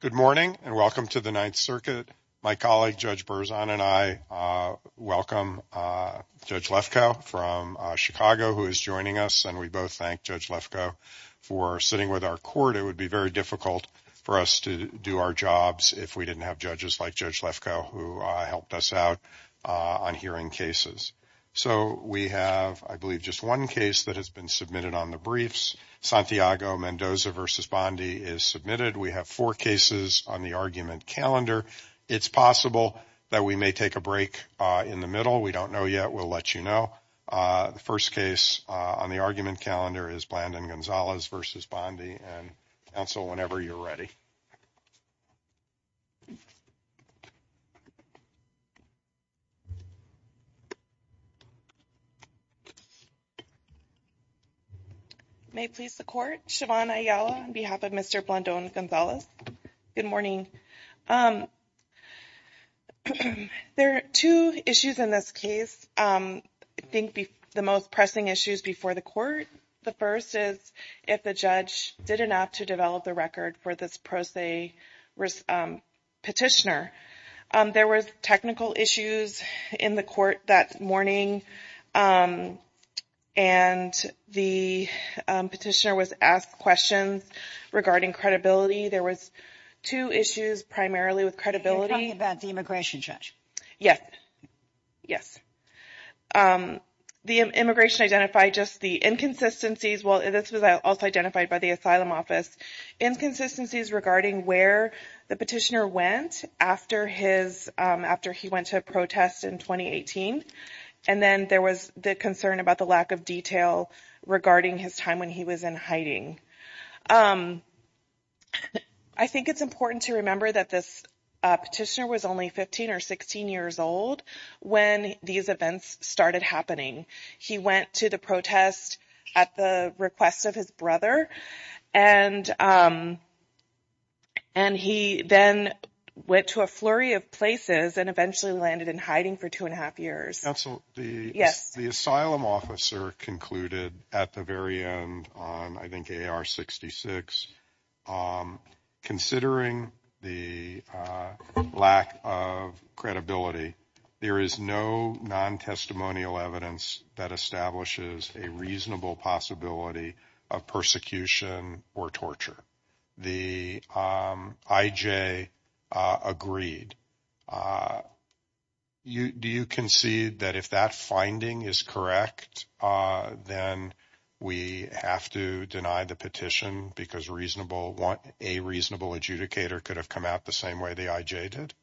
Good morning and welcome to the Ninth Circuit. My colleague Judge Berzon and I welcome Judge Lefkoe from Chicago who is joining us and we both thank Judge Lefkoe for sitting with our court. It would be very difficult for us to do our jobs if we didn't have judges like Judge Lefkoe who helped us out on hearing cases. So we have, I believe, just one case that has been submitted on the briefs. Santiago-Mendoza v. Bondi is submitted. We have four cases on the argument calendar. It's possible that we may take a break in the middle. We don't know yet. We'll let you know. The first case on the argument calendar is Blandon Gonzalez v. Bondi. Counsel, whenever you're ready. May it please the Court. Siobhan Ayala on behalf of Mr. Blandon Gonzalez. Good morning. There are two issues in this case. I think the most pressing issues before the court. The first is if the judge did enough to develop the record for this pro se petitioner. There was technical issues in the court that morning and the petitioner was asked questions regarding credibility. There was two issues primarily with credibility. Are you talking about the immigration judge? Yes. Yes. The immigration identified just the inconsistencies. Well, this was also identified by the asylum office inconsistencies regarding where the petitioner went after he went to protest in 2018. And then there was the concern about the lack of detail regarding his time when he was in hiding. I think it's important to remember that this petitioner was only 15 or 16 years old when these events started happening. He went to the protest at the request of his brother and he then went to a flurry of places and eventually landed in hiding for two and a half years. Yes. The asylum officer concluded at the very end on, I think, 66 considering the lack of credibility. There is no non-testimonial evidence that establishes a reasonable possibility of persecution or torture. The I.J. agreed. Do you concede that if that finding is correct, then we have to deny the petition because a reasonable adjudicator could have come out the same way the I.J. did?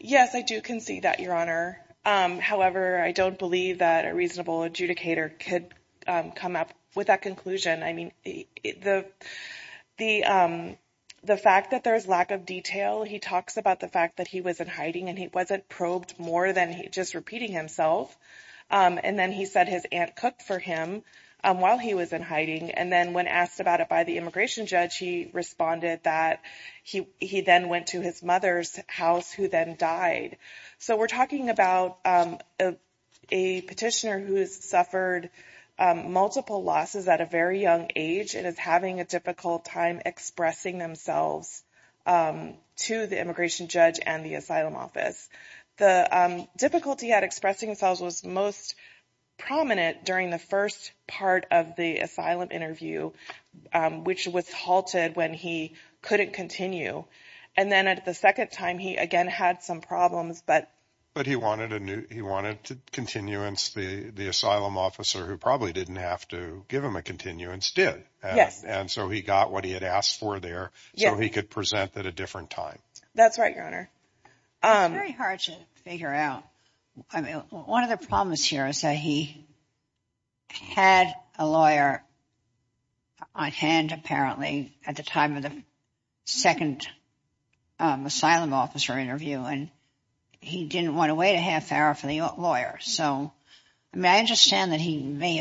Yes, I do concede that, Your Honor. However, I don't believe that a reasonable adjudicator could come up with that conclusion. I mean, the fact that there is lack of detail, he talks about the fact that he was in hiding and he wasn't probed more than just repeating himself. And then he said his aunt cooked for him while he was in hiding. And then when asked about it by the immigration judge, he responded that he then went to his mother's house, who then died. So we're talking about a petitioner who has suffered multiple losses at a very young age and is having a difficult time expressing themselves to the immigration judge and the asylum office. The difficulty at expressing themselves was most prominent during the first part of the asylum interview, which was halted when he couldn't continue. And then at the second time, he again had some problems. But he wanted a new he wanted continuance. The asylum officer who probably didn't have to give him a continuance did. Yes. And so he got what he had asked for there so he could present at a different time. That's right, Your Honor. It's very hard to figure out. One of the problems here is that he had a lawyer on hand, apparently, at the time of the second asylum officer interview, and he didn't want to wait a half hour for the lawyer. So I understand that he may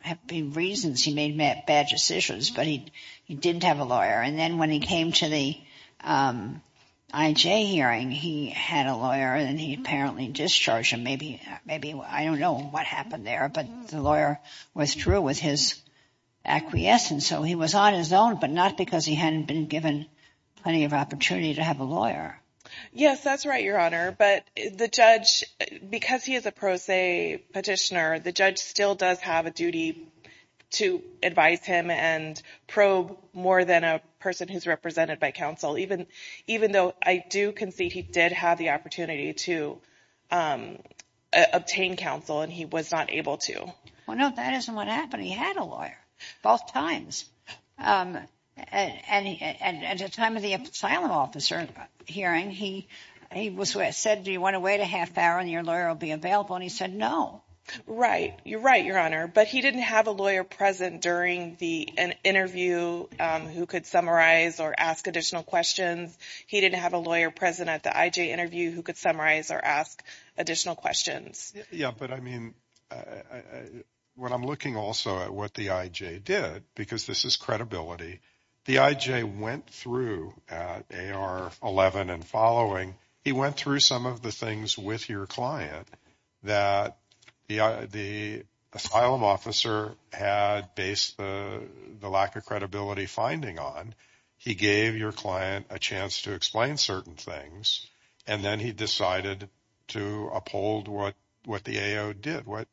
have been reasons he made bad decisions, but he didn't have a lawyer. And then when he came to the IJ hearing, he had a lawyer and he apparently discharged him. Maybe I don't know what happened there, but the lawyer withdrew with his acquiescence. So he was on his own, but not because he hadn't been given plenty of opportunity to have a lawyer. Yes, that's right, Your Honor. But the judge, because he is a pro se petitioner, the judge still does have a duty to advise him and probe more than a person who's represented by counsel, even even though I do concede he did have the opportunity to obtain counsel and he was not able to. Well, no, that isn't what happened. He had a lawyer both times. And at the time of the asylum officer hearing, he was said, do you want to wait a half hour and your lawyer will be available? And he said, no. Right. You're right, Your Honor. But he didn't have a lawyer present during the interview who could summarize or ask additional questions. He didn't have a lawyer present at the IJ interview who could summarize or ask additional questions. Yeah. But I mean, when I'm looking also at what the IJ did, because this is credibility, the IJ went through AR 11 and following. He went through some of the things with your client that the asylum officer had based the lack of credibility finding on. He gave your client a chance to explain certain things and then he decided to uphold what what the AO did, what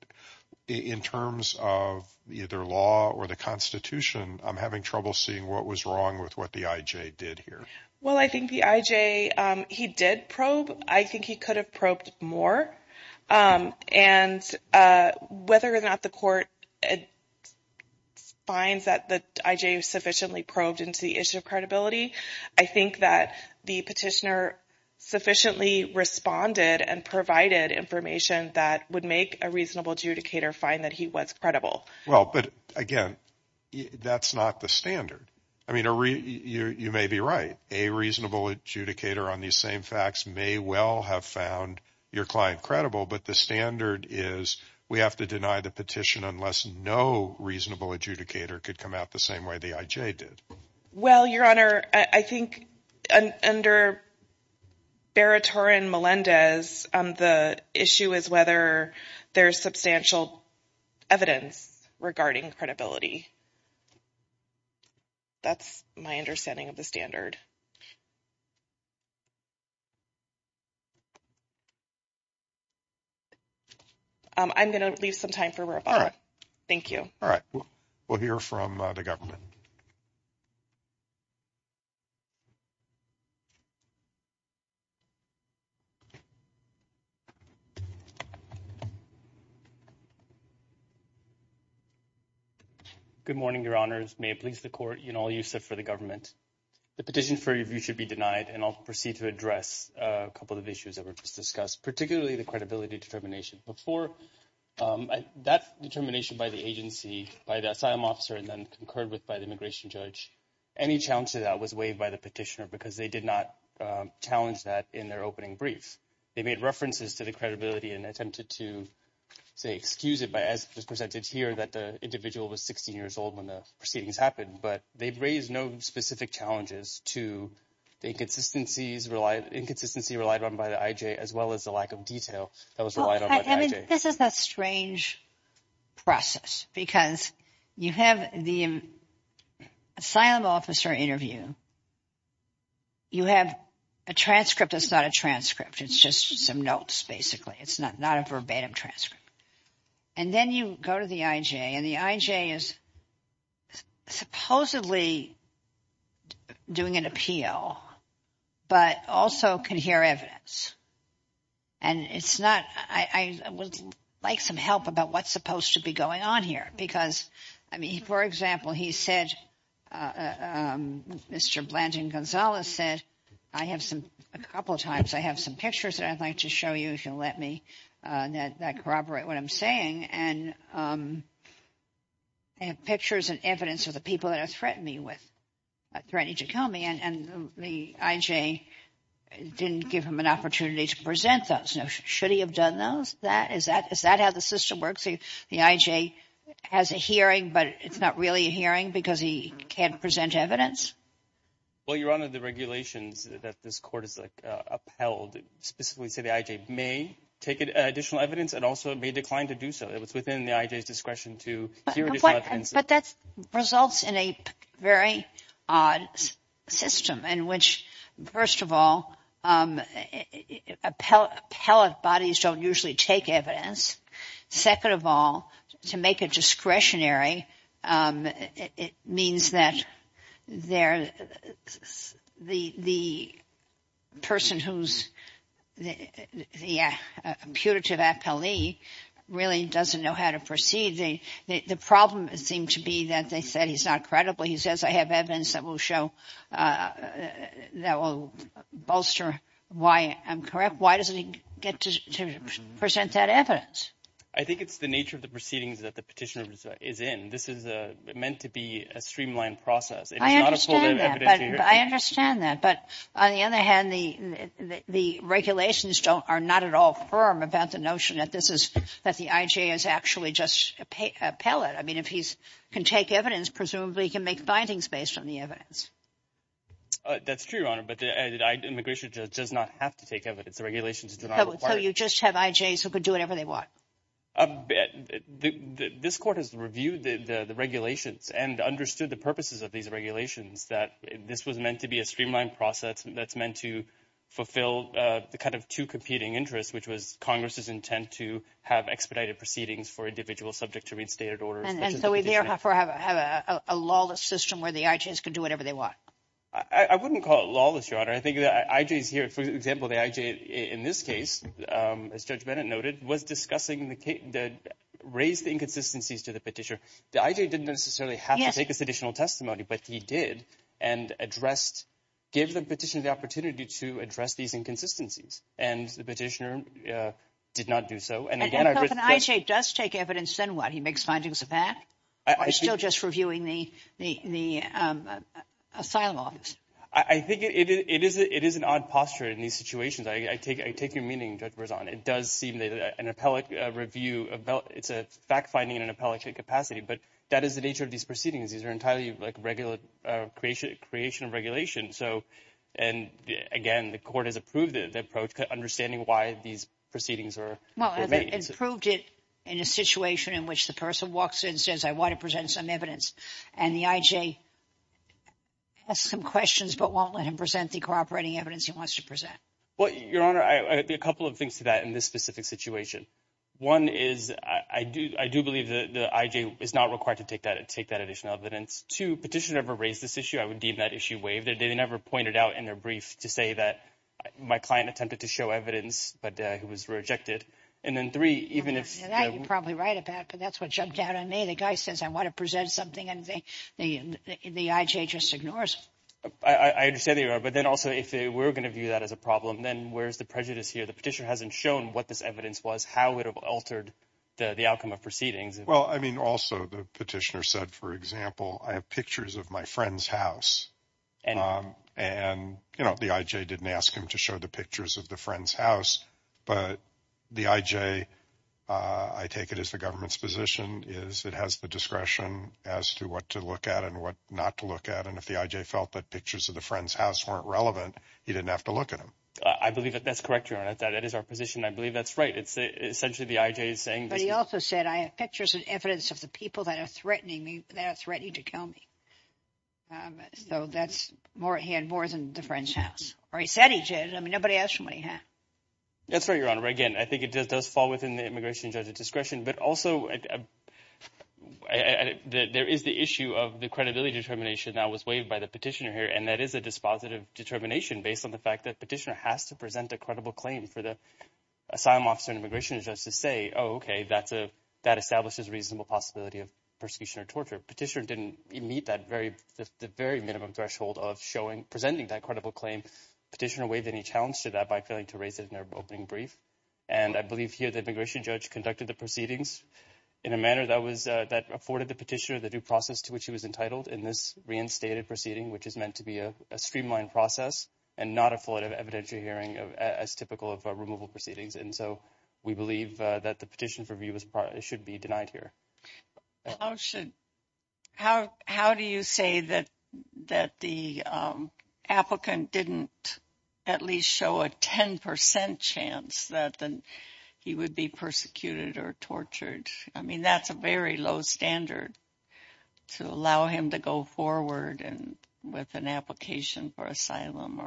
in terms of either law or the Constitution, I'm having trouble seeing what was wrong with what the IJ did here. Well, I think the IJ, he did probe. I think he could have probed more. And whether or not the court finds that the IJ sufficiently probed into the issue of credibility, I think that the petitioner sufficiently responded and provided information that would make a reasonable adjudicator find that he was credible. Well, but again, that's not the standard. I mean, you may be right. A reasonable adjudicator on these same facts may well have found your client credible. But the standard is we have to deny the petition unless no reasonable adjudicator could come out the same way the IJ did. Well, Your Honor, I think under Baratoren Melendez, the issue is whether there's substantial evidence regarding credibility. That's my understanding of the standard. I'm going to leave some time for. All right. Thank you. All right. We'll hear from the government. Good morning, Your Honors. May it please the court. You know, I'll use it for the government. The petition for review should be denied and I'll proceed to address a couple of issues that were just discussed, particularly the credibility determination before that determination by the agency, by the asylum officer and then concurred with by the immigration judge. Any challenge to that was waived by the petitioner because they did not challenge that in their opening brief. They made references to the credibility and attempted to say excuse it. But as presented here that the individual was 16 years old when the proceedings happened, but they've raised no specific challenges to the inconsistencies relied inconsistency relied on by the IJ, as well as the lack of detail that was relied on. This is a strange process because you have the asylum officer interview. You have a transcript. It's not a transcript. It's just some notes. Basically, it's not not a verbatim transcript. And then you go to the IJ and the IJ is supposedly doing an appeal, but also can hear evidence. And it's not I would like some help about what's supposed to be going on here, because I mean, for example, he said, Mr. Blanton Gonzalez said, I have some a couple of times I have some pictures that I'd like to show you if you'll let me corroborate what I'm saying. And I have pictures and evidence of the people that are threatening with threatening to kill me. And the IJ didn't give him an opportunity to present those. Now, should he have done those? That is that is that how the system works? The IJ has a hearing, but it's not really a hearing because he can't present evidence. Well, you're under the regulations that this court is upheld, specifically say the IJ may take additional evidence and also may decline to do so. But that results in a very odd system in which, first of all, appellate bodies don't usually take evidence. Second of all, to make a discretionary. It means that they're the person who's the putative appellee really doesn't know how to proceed. The problem seemed to be that they said he's not credible. He says, I have evidence that will show that will bolster why I'm correct. Why doesn't he get to present that evidence? I think it's the nature of the proceedings that the petitioner is in. This is meant to be a streamlined process. I understand that. But I understand that. But on the other hand, the the regulations don't are not at all firm about the notion that this is that the IJ is actually just appellate. I mean, if he can take evidence, presumably he can make findings based on the evidence. That's true, Your Honor. But immigration does not have to take evidence. The regulations do not require it. So you just have IJs who could do whatever they want. But this court has reviewed the regulations and understood the purposes of these regulations, that this was meant to be a streamlined process that's meant to fulfill the kind of two competing interests, which was Congress's intent to have expedited proceedings for individuals subject to reinstated orders. And so we therefore have a lawless system where the IJs could do whatever they want. I wouldn't call it lawless, Your Honor. I think the IJs here, for example, the IJ in this case, as Judge Bennett noted, was discussing the case that raised the inconsistencies to the petitioner. The IJ didn't necessarily have to take this additional testimony, but he did and addressed, gave the petitioner the opportunity to address these inconsistencies. And the petitioner did not do so. And again, the IJ does take evidence and what he makes findings of that. I think it is it is an odd posture in these situations. I take I take your meaning, Judge Berzon. It does seem that an appellate review, it's a fact finding in an appellate capacity. But that is the nature of these proceedings. These are entirely like regular creation, creation of regulation. So and again, the court has approved the approach to understanding why these proceedings are made. In a situation in which the person walks in, says, I want to present some evidence and the IJ has some questions, but won't let him present the cooperating evidence he wants to present. Well, Your Honor, a couple of things to that in this specific situation. One is I do I do believe the IJ is not required to take that and take that additional evidence to petitioner ever raised this issue. I would deem that issue waived. They never pointed out in their brief to say that my client attempted to show evidence, but it was rejected. And then three, even if that you're probably right about, but that's what jumped out on me. The guy says I want to present something and the the IJ just ignores. I understand you are. But then also, if they were going to view that as a problem, then where's the prejudice here? The petitioner hasn't shown what this evidence was, how it altered the outcome of proceedings. Well, I mean, also the petitioner said, for example, I have pictures of my friend's house and and, you know, the IJ didn't ask him to show the pictures of the friend's house. But the IJ, I take it as the government's position is it has the discretion as to what to look at and what not to look at. And if the IJ felt that pictures of the friend's house weren't relevant, he didn't have to look at him. I believe that that's correct. That is our position. I believe that's right. It's essentially the IJ is saying, but he also said, I have pictures and evidence of the people that are threatening me. That's ready to kill me. So that's more. He had more than the friend's house or he said he did. I mean, nobody asked him what he had. That's right, Your Honor. Again, I think it just does fall within the immigration judge's discretion. But also there is the issue of the credibility determination that was waived by the petitioner here. And that is a dispositive determination based on the fact that petitioner has to present a credible claim for the asylum officer and immigration justice say, oh, OK, that's a that establishes reasonable possibility of persecution or torture. Petitioner didn't meet that very, very minimum threshold of showing presenting that credible claim. Petitioner waived any challenge to that by failing to raise it in their opening brief. And I believe here the immigration judge conducted the proceedings in a manner that was that afforded the petitioner the due process to which he was entitled in this reinstated proceeding, which is meant to be a streamlined process and not a flight of evidentiary hearing of as typical of removal proceedings. And so we believe that the petition for review was it should be denied here. How should how how do you say that that the applicant didn't at least show a 10 percent chance that he would be persecuted or tortured? I mean, that's a very low standard to allow him to go forward and with an application for asylum.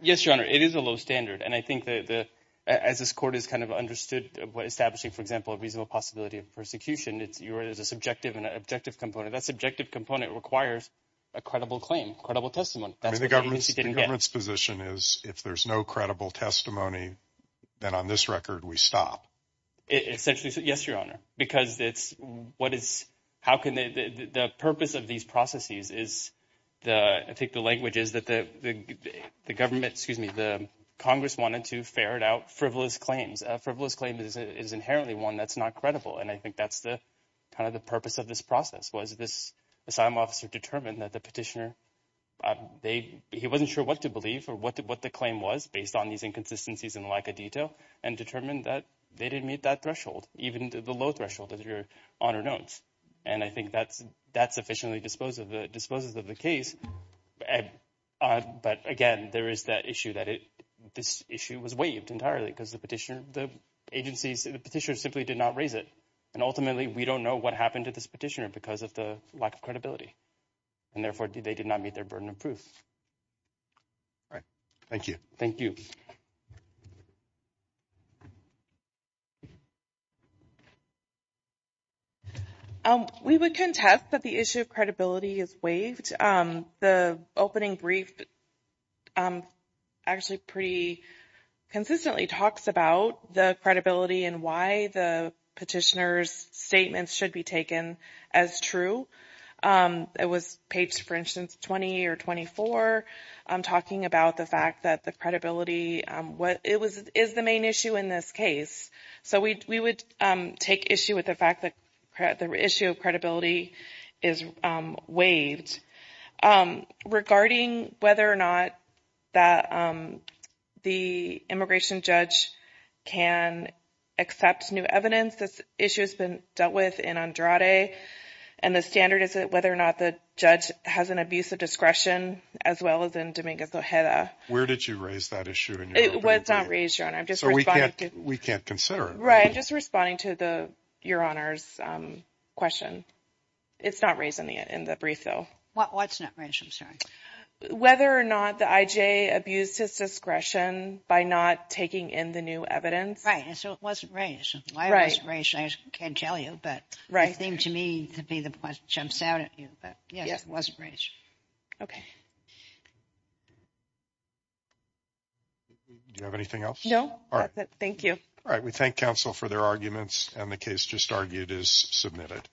Yes, your honor, it is a low standard. And I think that as this court is kind of understood what establishing, for example, a reasonable possibility of persecution, it's your it is a subjective and objective component. That subjective component requires a credible claim, credible testimony. So that's the government's position is if there's no credible testimony, then on this record, we stop essentially. Yes, your honor. Because it's what is how can the purpose of these processes is the I think the language is that the government excuse me, the Congress wanted to ferret out frivolous claims. It's a frivolous claim is inherently one that's not credible. And I think that's the kind of the purpose of this process was this asylum officer determined that the petitioner they he wasn't sure what to believe or what what the claim was based on these inconsistencies and lack of detail and determined that they didn't meet that threshold, even the low threshold of your honor notes. And I think that's that's sufficiently disposed of the disposals of the case. But again, there is that issue that this issue was waived entirely because the petitioner, the agencies, the petitioner simply did not raise it. And ultimately, we don't know what happened to this petitioner because of the lack of credibility. And therefore, they did not meet their burden of proof. All right. Thank you. Thank you. We would contest that the issue of credibility is waived. The opening brief actually pretty consistently talks about the credibility and why the petitioner's statements should be taken as true. It was paged, for instance, 20 or 24 talking about the fact that the credibility what it was is the main issue in this case. So we would take issue with the fact that the issue of credibility is waived regarding whether or not that the immigration judge can accept new evidence. This issue has been dealt with in Andrade. And the standard is that whether or not the judge has an abuse of discretion as well as in Dominguez Ojeda. Where did you raise that issue? It was not raised. And I'm just so we can't we can't consider it. Right. Just responding to the your honor's question. It's not raising it in the brief, though. I'm sorry, whether or not the IJ abused his discretion by not taking in the new evidence. Right. And so it wasn't raised. Right. Right. I can't tell you. But right thing to me to be the one jumps out at you. But, yes, it wasn't. Do you have anything else? No. All right. Thank you. All right. We thank counsel for their arguments. And the case just argued is submitted.